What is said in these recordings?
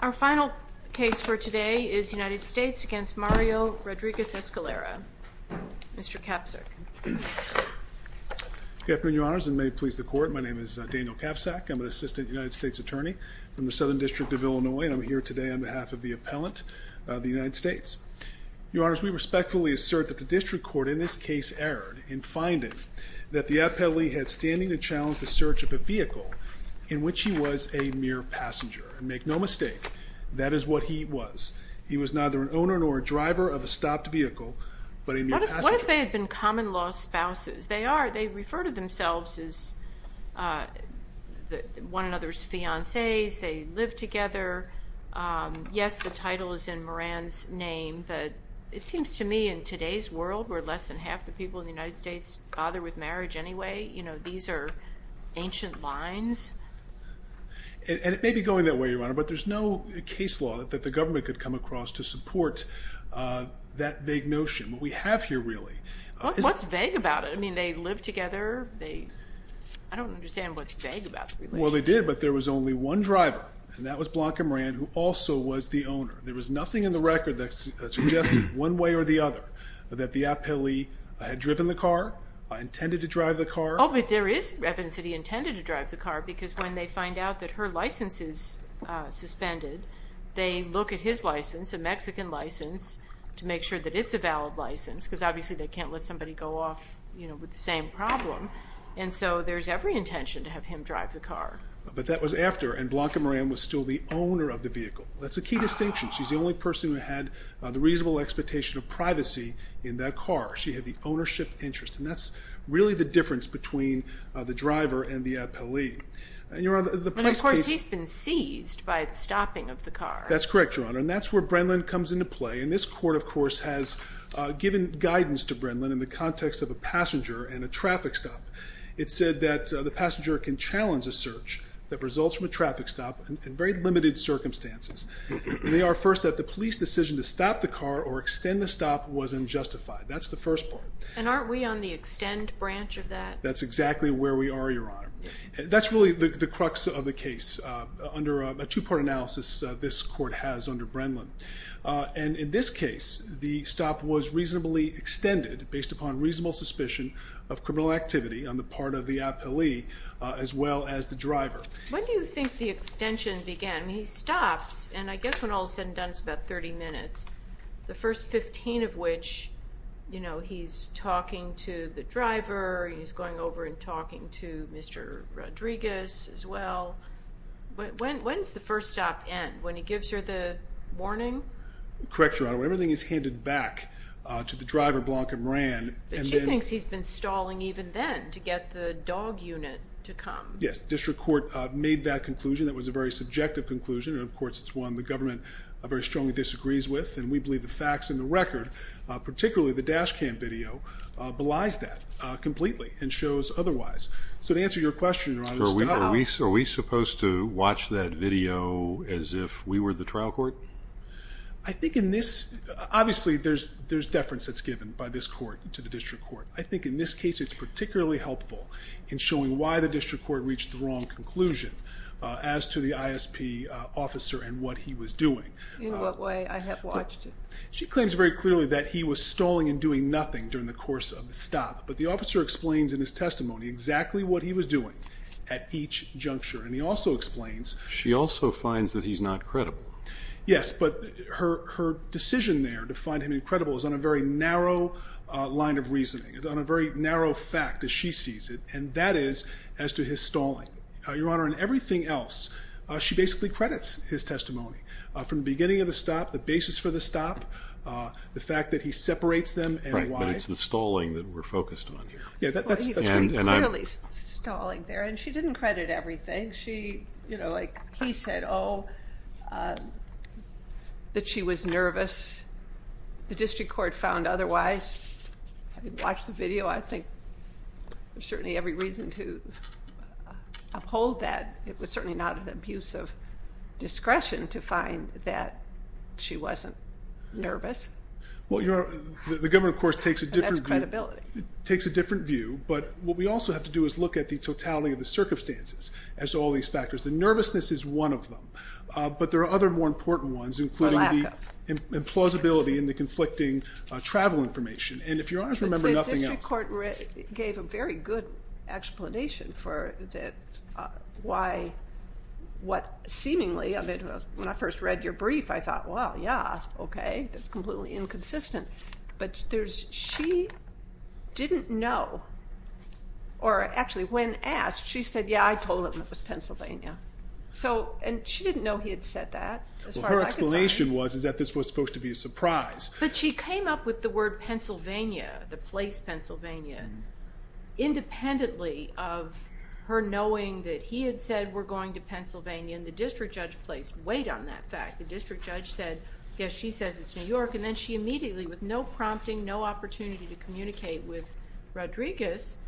Our final case for today is United States v. Mario Rodriguez-Escalera. Mr. Kapsack. Good afternoon, Your Honors, and may it please the Court, my name is Daniel Kapsack. I'm an Assistant United States Attorney from the Southern District of Illinois, and I'm here today on behalf of the appellant, the United States. Your Honors, we respectfully assert that the District Court in this case erred in finding that the appellee had standing to challenge the search of a vehicle in which he was a mere passenger, and make no mistake, that is what he was. He was neither an owner nor a driver of a stopped vehicle, but a mere passenger. What if they had been common-law spouses? They are, they refer to themselves as one another's fiancés, they live together. Yes, the title is in Moran's name, but it seems to me in today's world, where less than half the people in the United States bother with marriage anyway, you know, these are ancient lines. And it may be going that way, Your Honor, but there's no case law that the government could come across to support that vague notion. What we have here, really, is... What's vague about it? I mean, they live together, they... I don't understand what's vague about the relationship. Well, they did, but there was only one driver, and that was Blanca Moran, who also was the other, that the appellee had driven the car, intended to drive the car. Oh, but there is evidence that he intended to drive the car, because when they find out that her license is suspended, they look at his license, a Mexican license, to make sure that it's a valid license, because obviously they can't let somebody go off with the same problem, and so there's every intention to have him drive the car. But that was after, and Blanca Moran was still the owner of the vehicle. That's a key distinction. She's the only person who had the reasonable expectation of privacy in that car. She had the ownership interest, and that's really the difference between the driver and the appellee. But, of course, he's been seized by the stopping of the car. That's correct, Your Honor, and that's where Brennan comes into play, and this court, of course, has given guidance to Brennan in the context of a passenger and a traffic stop. It said that the passenger can challenge a search that results from a traffic stop in very limited circumstances. They are, first, that the police decision to stop the car or extend the stop was unjustified. That's the first part. And aren't we on the extend branch of that? That's exactly where we are, Your Honor. That's really the crux of the case under a two-part analysis this court has under Brennan, and in this case, the stop was reasonably extended based upon reasonable suspicion of criminal activity on the part of the appellee as well as the driver. When do you think the extension began? I mean, he stops, and I guess when all is said and done, it's about 30 minutes, the first 15 of which, you know, he's talking to the driver, he's going over and talking to Mr. Rodriguez as well. When's the first stop end? When he gives her the warning? Correct, Your Honor. When everything is handed back to the driver, Blanca Moran, and then... She thinks he's been stalling even then to get the dog unit to come. Yes. The district court made that conclusion. That was a very subjective conclusion, and of course, it's one the government very strongly disagrees with, and we believe the facts and the record, particularly the dash cam video, belies that completely and shows otherwise. So to answer your question, Your Honor, stop... Are we supposed to watch that video as if we were the trial court? I think in this, obviously, there's deference that's given by this court to the district court. I think in this case, it's particularly helpful in showing why the district court reached the wrong conclusion as to the ISP officer and what he was doing. In what way? I have watched it. She claims very clearly that he was stalling and doing nothing during the course of the stop, but the officer explains in his testimony exactly what he was doing at each juncture, and he also explains... She also finds that he's not credible. Yes, but her decision there to find him incredible is on a very narrow line of reasoning. It's on a very narrow fact, as she sees it, and that is as to his stalling. Your Honor, in everything else, she basically credits his testimony, from the beginning of the stop, the basis for the stop, the fact that he separates them and why... Right, but it's the stalling that we're focused on here. Yeah, that's... Well, he was clearly stalling there, and she didn't credit everything. She... You know, like he said, oh, that she was nervous. The district court found otherwise. I watched the video. I think there's certainly every reason to uphold that. It was certainly not an abuse of discretion to find that she wasn't nervous. Well, Your Honor, the government, of course, takes a different view. And that's credibility. Takes a different view, but what we also have to do is look at the totality of the circumstances as to all these factors. The nervousness is one of them, but there are other more important ones, including the... The lack of... ...implausibility and the conflicting travel information. And if you're honest, remember nothing else. But the district court gave a very good explanation for why, what seemingly, I mean, when I first read your brief, I thought, well, yeah, okay, that's completely inconsistent. But there's, she didn't know, or actually, when asked, she said, yeah, I told him it was Pennsylvania. So, and she didn't know he had said that, as far as I could find. Well, her explanation was, is that this was supposed to be a surprise. But she came up with the word Pennsylvania, the place Pennsylvania, independently of her knowing that he had said we're going to Pennsylvania, and the district judge placed weight on that fact. The district judge said, yes, she says it's New York, and then she immediately, with no prompting, no opportunity to communicate with Rodriguez,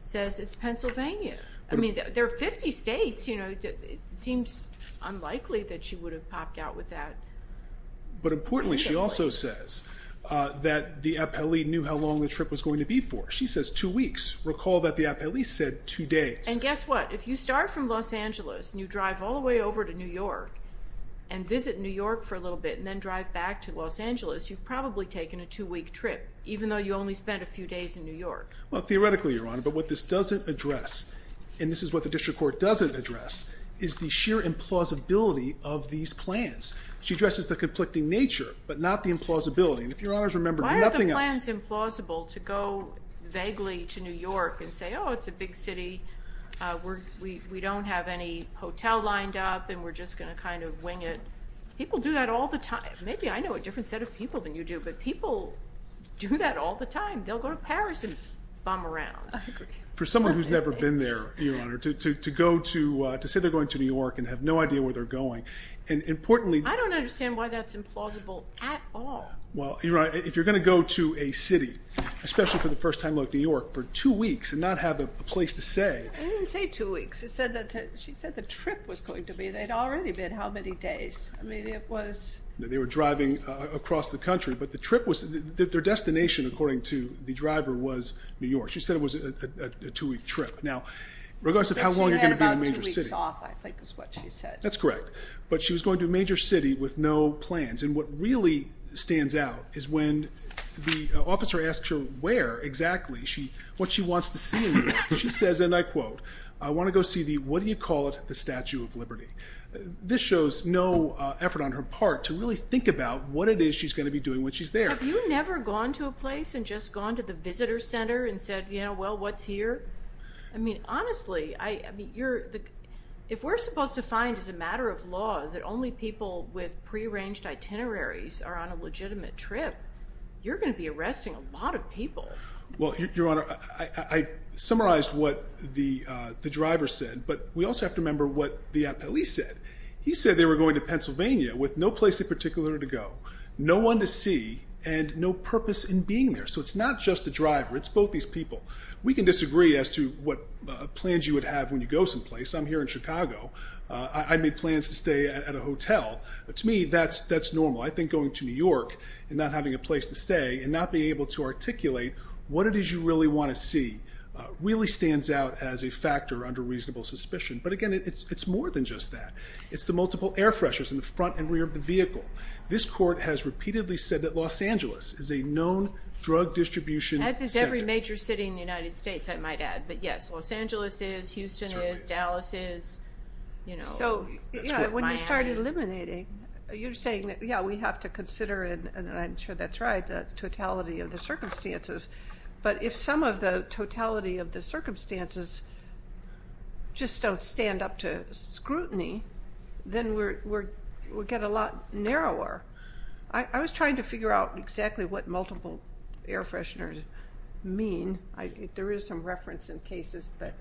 says it's Pennsylvania. I mean, there are 50 states, you know, it seems unlikely that she would have popped out with that. But importantly, she also says that the appellee knew how long the trip was going to be for. She says two weeks. Recall that the appellee said two days. And guess what? If you start from Los Angeles, and you drive all the way over to New York, and visit New York for a little bit, and then drive back to Los Angeles, you've probably taken a two-week trip, even though you only spent a few days in New York. Well, theoretically, Your Honor, but what this doesn't address, and this is what the district court doesn't address, is the sheer implausibility of these plans. She addresses the conflicting nature, but not the implausibility. And if Your Honors remember, nothing else- Why are the plans implausible to go vaguely to New York and say, oh, it's a big city, we don't have any hotel lined up, and we're just going to kind of wing it? People do that all the time. Maybe I know a different set of people than you do, but people do that all the time. They'll go to Paris and bum around. For someone who's never been there, Your Honor, to go to, to say they're going to New York and have no idea where they're going, and importantly- I don't understand why that's implausible at all. Well, Your Honor, if you're going to go to a city, especially for the first time, like New York, for two weeks, and not have a place to say- I didn't say two weeks, I said that, she said the trip was going to be, they'd already been how many days? I mean, it was- They were driving across the country, but the trip was, their destination, according to the driver, was New York. She said it was a two week trip. Now, regardless of how long you're going to be in a major city- She said she had about two weeks off, I think is what she said. That's correct. But she was going to a major city with no plans, and what really stands out is when the officer asks her where exactly, what she wants to see in New York, she says, and I quote, I want to go see the, what do you call it, the Statue of Liberty. This shows no effort on her part to really think about what it is she's going to be doing when she's there. Have you never gone to a place and just gone to the visitor center and said, well, what's here? I mean, honestly, if we're supposed to find, as a matter of law, that only people with pre-arranged itineraries are on a legitimate trip, you're going to be arresting a lot of people. Well, Your Honor, I summarized what the driver said, but we also have to remember what the police said. He said they were going to Pennsylvania with no place in particular to go, no one to see, and no purpose in being there. So it's not just the driver, it's both these people. We can disagree as to what plans you would have when you go someplace. I'm here in Chicago. I made plans to stay at a hotel, but to me, that's normal. I think going to New York and not having a place to stay and not being able to articulate what it is you really want to see really stands out as a factor under reasonable suspicion. But again, it's more than just that. It's the multiple air freshers in the front and rear of the vehicle. This court has repeatedly said that Los Angeles is a known drug distribution center. As is every major city in the United States, I might add. But yes, Los Angeles is, Houston is, Dallas is, you know. So when you start eliminating, you're saying that, yeah, we have to consider, and I'm sure that's right, the totality of the circumstances. But if some of the totality of the circumstances just don't stand up to scrutiny, then we get a lot narrower. I was trying to figure out exactly what multiple air fresheners mean. There is some reference in cases, but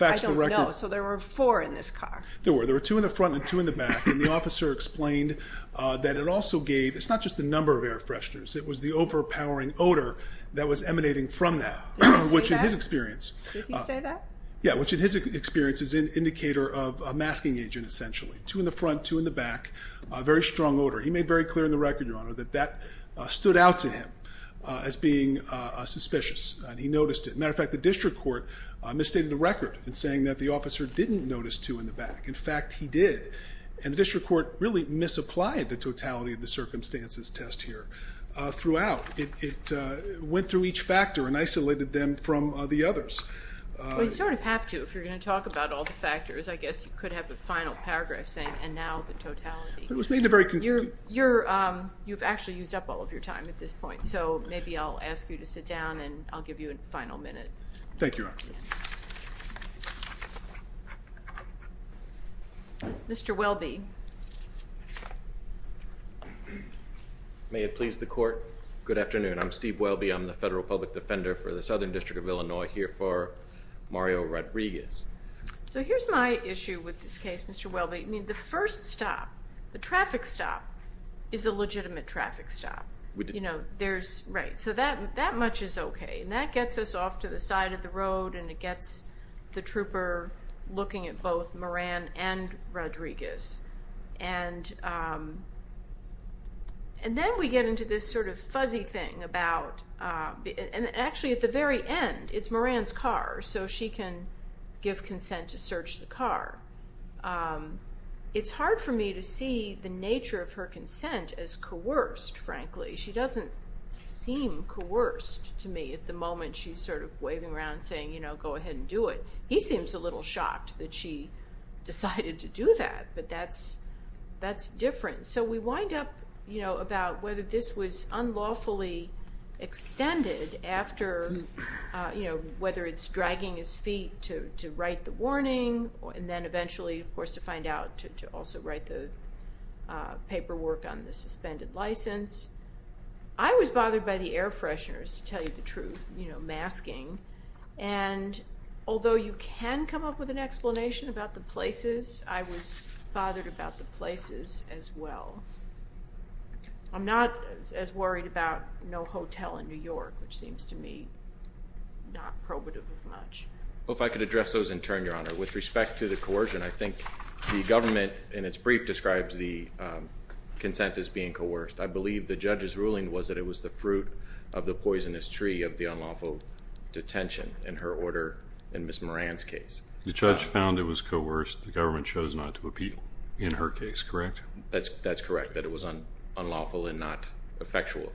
I don't know. So there were four in this car. There were. There were two in the front and two in the back. And the officer explained that it also gave, it's not just the number of air fresheners, it was the overpowering odor that was emanating from that. Did he say that? Which in his experience. Did he say that? Yeah, which in his experience is an indicator of a masking agent, essentially. Two in the front, two in the back, a very strong odor. He made very clear in the record, Your Honor, that that stood out to him as being suspicious. He noticed it. As a matter of fact, the district court misstated the record in saying that the officer didn't notice two in the back. In fact, he did. And the district court really misapplied the totality of the circumstances test here throughout. It went through each factor and isolated them from the others. Well, you sort of have to if you're going to talk about all the factors. I guess you could have the final paragraph saying, and now the totality. It was made very conclusive. You've actually used up all of your time at this point. So maybe I'll ask you to sit down and I'll give you a final minute. Thank you, Your Honor. Mr. Welby. May it please the court. Good afternoon. I'm Steve Welby. I'm the federal public defender for the Southern District of Illinois here for Mario Rodriguez. So here's my issue with this case, Mr. Welby. I mean, the first stop, the traffic stop, is a legitimate traffic stop. You know, there's... Right. So that much is okay. And that gets us off to the side of the road and it gets the trooper looking at both Moran and Rodriguez. And then we get into this sort of fuzzy thing about... And actually at the very end, it's Moran's car. So she can give consent to search the car. It's hard for me to see the nature of her consent as coerced, frankly. She doesn't seem coerced to me at the moment. She's sort of waving around saying, you know, go ahead and do it. He seems a little shocked that she decided to do that, but that's different. So we wind up, you know, about whether this was unlawfully extended after, you know, whether it's dragging his feet to write the warning and then eventually, of course, to find out to also write the paperwork on the suspended license. I was bothered by the air fresheners, to tell you the truth, you know, masking, and although you can come up with an explanation about the places, I was bothered about the places as well. I'm not as worried about no hotel in New York, which seems to me not probative of much. Well, if I could address those in turn, Your Honor. With respect to the coercion, I think the government, in its brief, describes the consent as being coerced. I believe the judge's ruling was that it was the fruit of the poisonous tree of the unlawful detention in her order in Ms. Moran's case. The judge found it was coerced, the government chose not to appeal in her case, correct? That's correct, that it was unlawful and not effectual.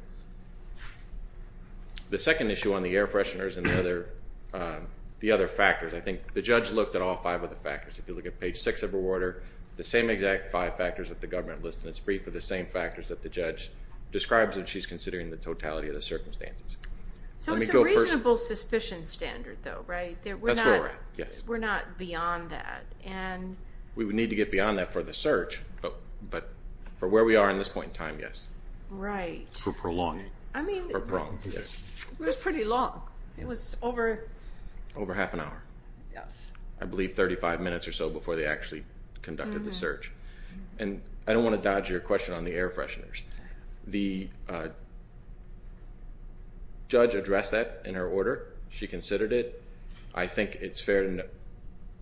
The second issue on the air fresheners and the other factors, I think the judge looked at all five of the factors. If you look at page six of her order, the same exact five factors that the government lists in its brief are the same factors that the judge describes when she's considering the totality of the circumstances. So it's a reasonable suspicion standard though, right? We're not beyond that. We would need to get beyond that for the search, but for where we are in this point in time, yes. Right. For prolonging. For prolonging, yes. It was pretty long. It was over... Over half an hour. Yes. I believe 35 minutes or so before they actually conducted the search. And I don't want to dodge your question on the air fresheners. The judge addressed that in her order. She considered it. I think it's a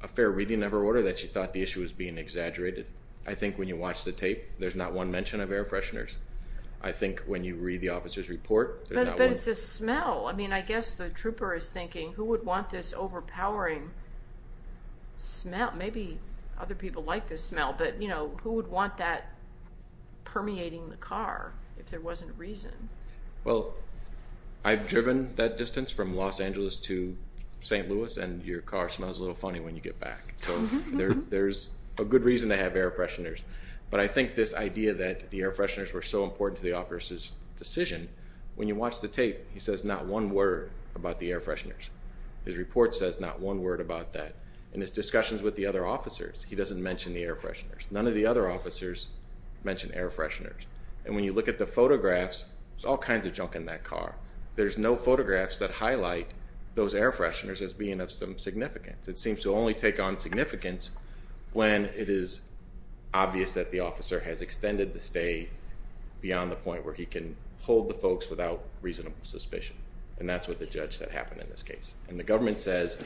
fair reading of her order that she thought the issue was being exaggerated. I think when you watch the tape, there's not one mention of air fresheners. I think when you read the officer's report, there's not one. But it's a smell. I mean, I guess the trooper is thinking, who would want this overpowering smell? Maybe other people like this smell, but who would want that permeating the car if there wasn't a reason? Well, I've driven that distance from Los Angeles to St. Louis, and your car smells a little funny when you get back. So there's a good reason to have air fresheners. But I think this idea that the air fresheners were so important to the officer's decision, when you watch the tape, he says not one word about the air fresheners. His report says not one word about that. In his discussions with the other officers, he doesn't mention the air fresheners. None of the other officers mention air fresheners. And when you look at the photographs, there's all kinds of junk in that car. There's no photographs that highlight those air fresheners as being of some significance. It seems to only take on significance when it is obvious that the officer has extended the stay beyond the point where he can hold the folks without reasonable suspicion. And that's what the judge said happened in this case. And the government says,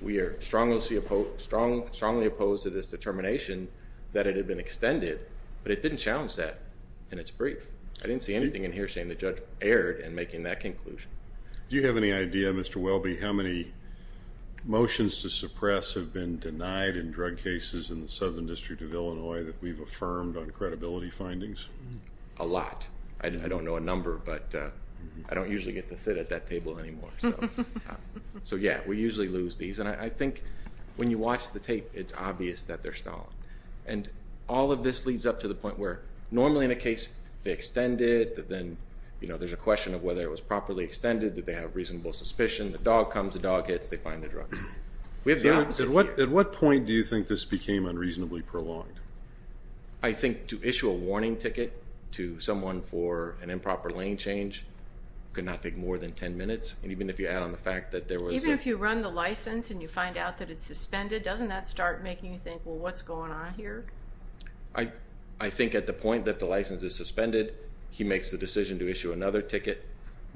we are strongly opposed to this determination that it had been extended, but it didn't challenge that in its brief. I didn't see anything in here saying the judge erred in making that conclusion. Do you have any idea, Mr. Welby, how many motions to suppress have been denied in drug in Illinois that we've affirmed on credibility findings? A lot. I don't know a number, but I don't usually get to sit at that table anymore. So yeah, we usually lose these. And I think when you watch the tape, it's obvious that they're stolen. And all of this leads up to the point where normally in a case, they extend it, then there's a question of whether it was properly extended, did they have reasonable suspicion, the dog comes, the dog hits, they find the drugs. We have the opposite here. At what point do you think this became unreasonably prolonged? I think to issue a warning ticket to someone for an improper lane change could not take more than 10 minutes. And even if you add on the fact that there was... Even if you run the license and you find out that it's suspended, doesn't that start making you think, well, what's going on here? I think at the point that the license is suspended, he makes the decision to issue another ticket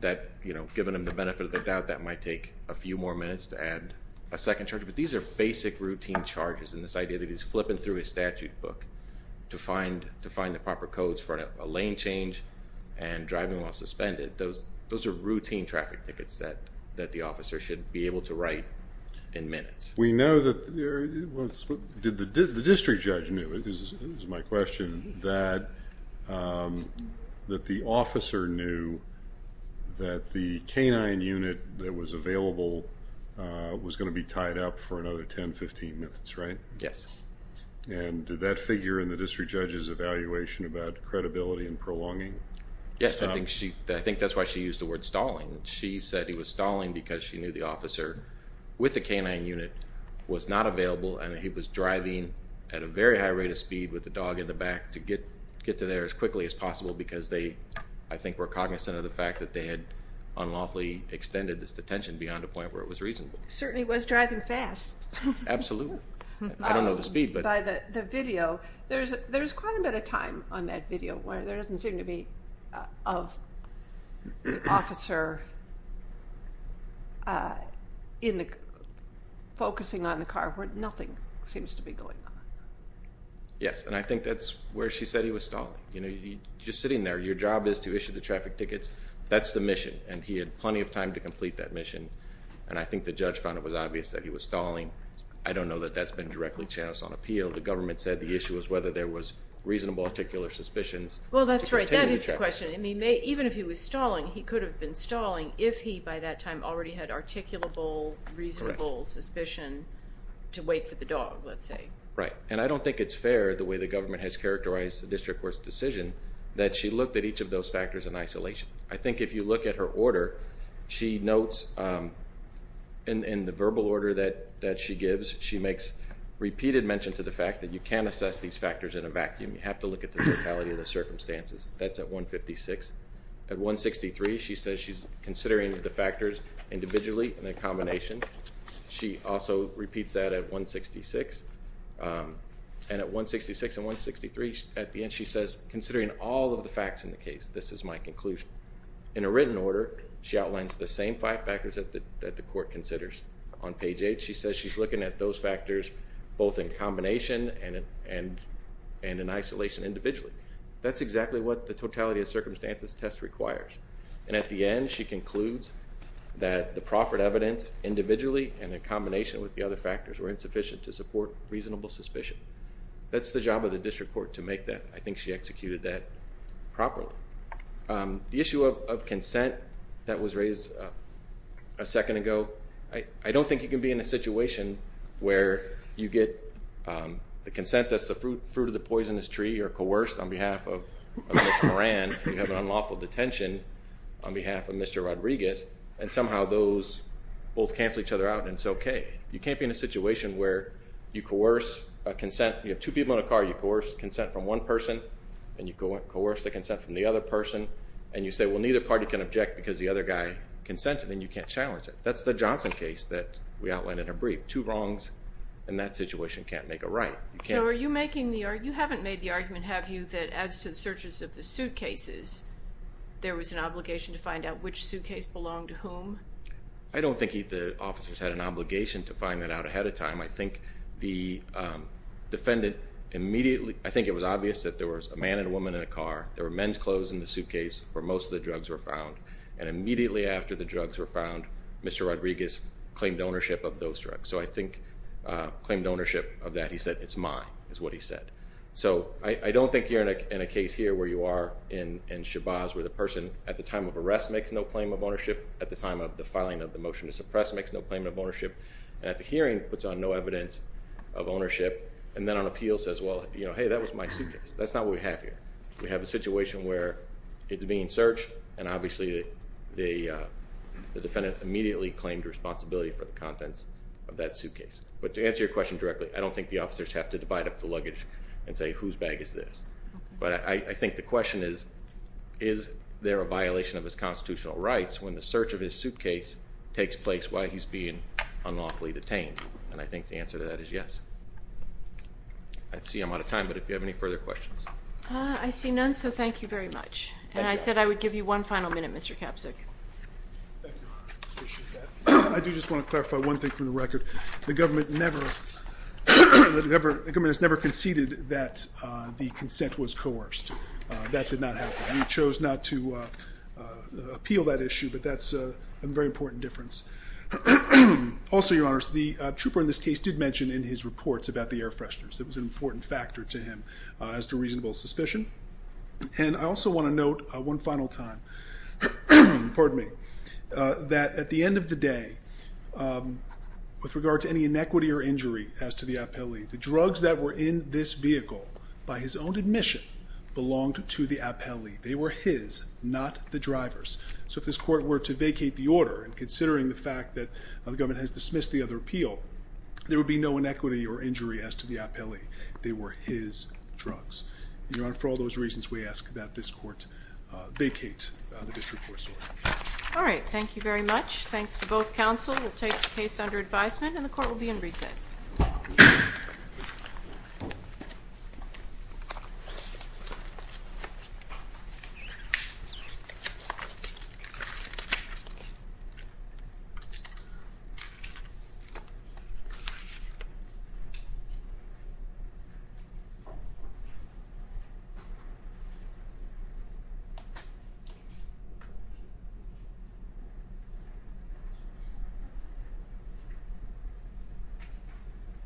that given him the benefit of the doubt, that might take a few more minutes to add a second charge. But these are basic routine charges and this idea that he's flipping through his statute book to find the proper codes for a lane change and driving while suspended, those are routine traffic tickets that the officer should be able to write in minutes. We know that there was... Did the district judge knew, this is my question, that the officer knew that the canine unit that was available was going to be tied up for another 10, 15 minutes, right? Yes. And did that figure in the district judge's evaluation about credibility and prolonging? Yes. I think that's why she used the word stalling. She said he was stalling because she knew the officer with the canine unit was not available and he was driving at a very high rate of speed with the dog in the back to get to there as quickly as possible because they, I think, were cognizant of the fact that they had unlawfully extended this detention beyond a point where it was reasonable. Certainly was driving fast. Absolutely. I don't know the speed, but... By the video. There's quite a bit of time on that video where there doesn't seem to be of the officer focusing on the car where nothing seems to be going on. Yes. And I think that's where she said he was stalling. Just sitting there, your job is to issue the traffic tickets. That's the mission. And he had plenty of time to complete that mission. And I think the judge found it was obvious that he was stalling. I don't know that that's been directly chanced on appeal. The government said the issue was whether there was reasonable articular suspicions. Well, that's right. That is the question. I mean, even if he was stalling, he could have been stalling if he, by that time, already had articulable, reasonable suspicion to wait for the dog, let's say. Right. And I don't think it's fair, the way the government has characterized the district court's decision, that she looked at each of those factors in isolation. I think if you look at her order, she notes in the verbal order that she gives, she makes repeated mention to the fact that you can't assess these factors in a vacuum. You have to look at the totality of the circumstances. That's at 156. At 163, she says she's considering the factors individually in a combination. She also repeats that at 166. And at 166 and 163, at the end, she says, considering all of the facts in the case, this is my conclusion. In a written order, she outlines the same five factors that the court considers. On page eight, she says she's looking at those factors, both in combination and in isolation individually. That's exactly what the totality of circumstances test requires. And at the end, she concludes that the proffered evidence, individually and in combination with the other factors, were insufficient to support reasonable suspicion. That's the job of the district court to make that. I think she executed that properly. The issue of consent that was raised a second ago, I don't think you can be in a situation where you get the consent that's the fruit of the poisonous tree or coerced on behalf of Ms. Moran, you have an unlawful detention on behalf of Mr. Rodriguez, and somehow those both cancel each other out, and it's okay. You can't be in a situation where you coerce a consent, you have two people in a car, you coerce one person, and you coerce the consent from the other person, and you say, well neither party can object because the other guy consented, and you can't challenge it. That's the Johnson case that we outlined in her brief. Two wrongs in that situation can't make a right. So are you making the argument, you haven't made the argument, have you, that as to the searches of the suitcases, there was an obligation to find out which suitcase belonged to whom? I don't think the officers had an obligation to find that out ahead of time. I think the defendant immediately, I think it was obvious that there was a man and a woman in a car, there were men's clothes in the suitcase where most of the drugs were found, and immediately after the drugs were found, Mr. Rodriguez claimed ownership of those drugs. So I think claimed ownership of that, he said, it's mine, is what he said. So I don't think you're in a case here where you are in Shabazz where the person at the time of arrest makes no claim of ownership, at the time of the filing of the motion to evidence of ownership, and then on appeal says, well, hey, that was my suitcase. That's not what we have here. We have a situation where it's being searched, and obviously the defendant immediately claimed responsibility for the contents of that suitcase. But to answer your question directly, I don't think the officers have to divide up the luggage and say whose bag is this. But I think the question is, is there a violation of his constitutional rights when the search of his suitcase takes place while he's being unlawfully detained? And I think the answer to that is yes. I see I'm out of time, but if you have any further questions. I see none, so thank you very much. And I said I would give you one final minute, Mr. Kapsuch. Thank you, Your Honor. I appreciate that. I do just want to clarify one thing for the record. The government never, the government has never conceded that the consent was coerced. That did not happen. We chose not to appeal that issue, but that's a very important difference. Also, Your Honor, the trooper in this case did mention in his reports about the air fresheners. It was an important factor to him as to reasonable suspicion. And I also want to note one final time, that at the end of the day, with regard to any inequity or injury as to the appellee, the drugs that were in this vehicle, by his own admission, belonged to the appellee. They were his, not the driver's. So if this court were to vacate the order, and considering the fact that the government has dismissed the other appeal, there would be no inequity or injury as to the appellee. They were his drugs. Your Honor, for all those reasons, we ask that this court vacate the district court's order. All right. Thank you very much. Thanks for both counsel. We'll take the case under advisement, and the court will be in recess. Thank you.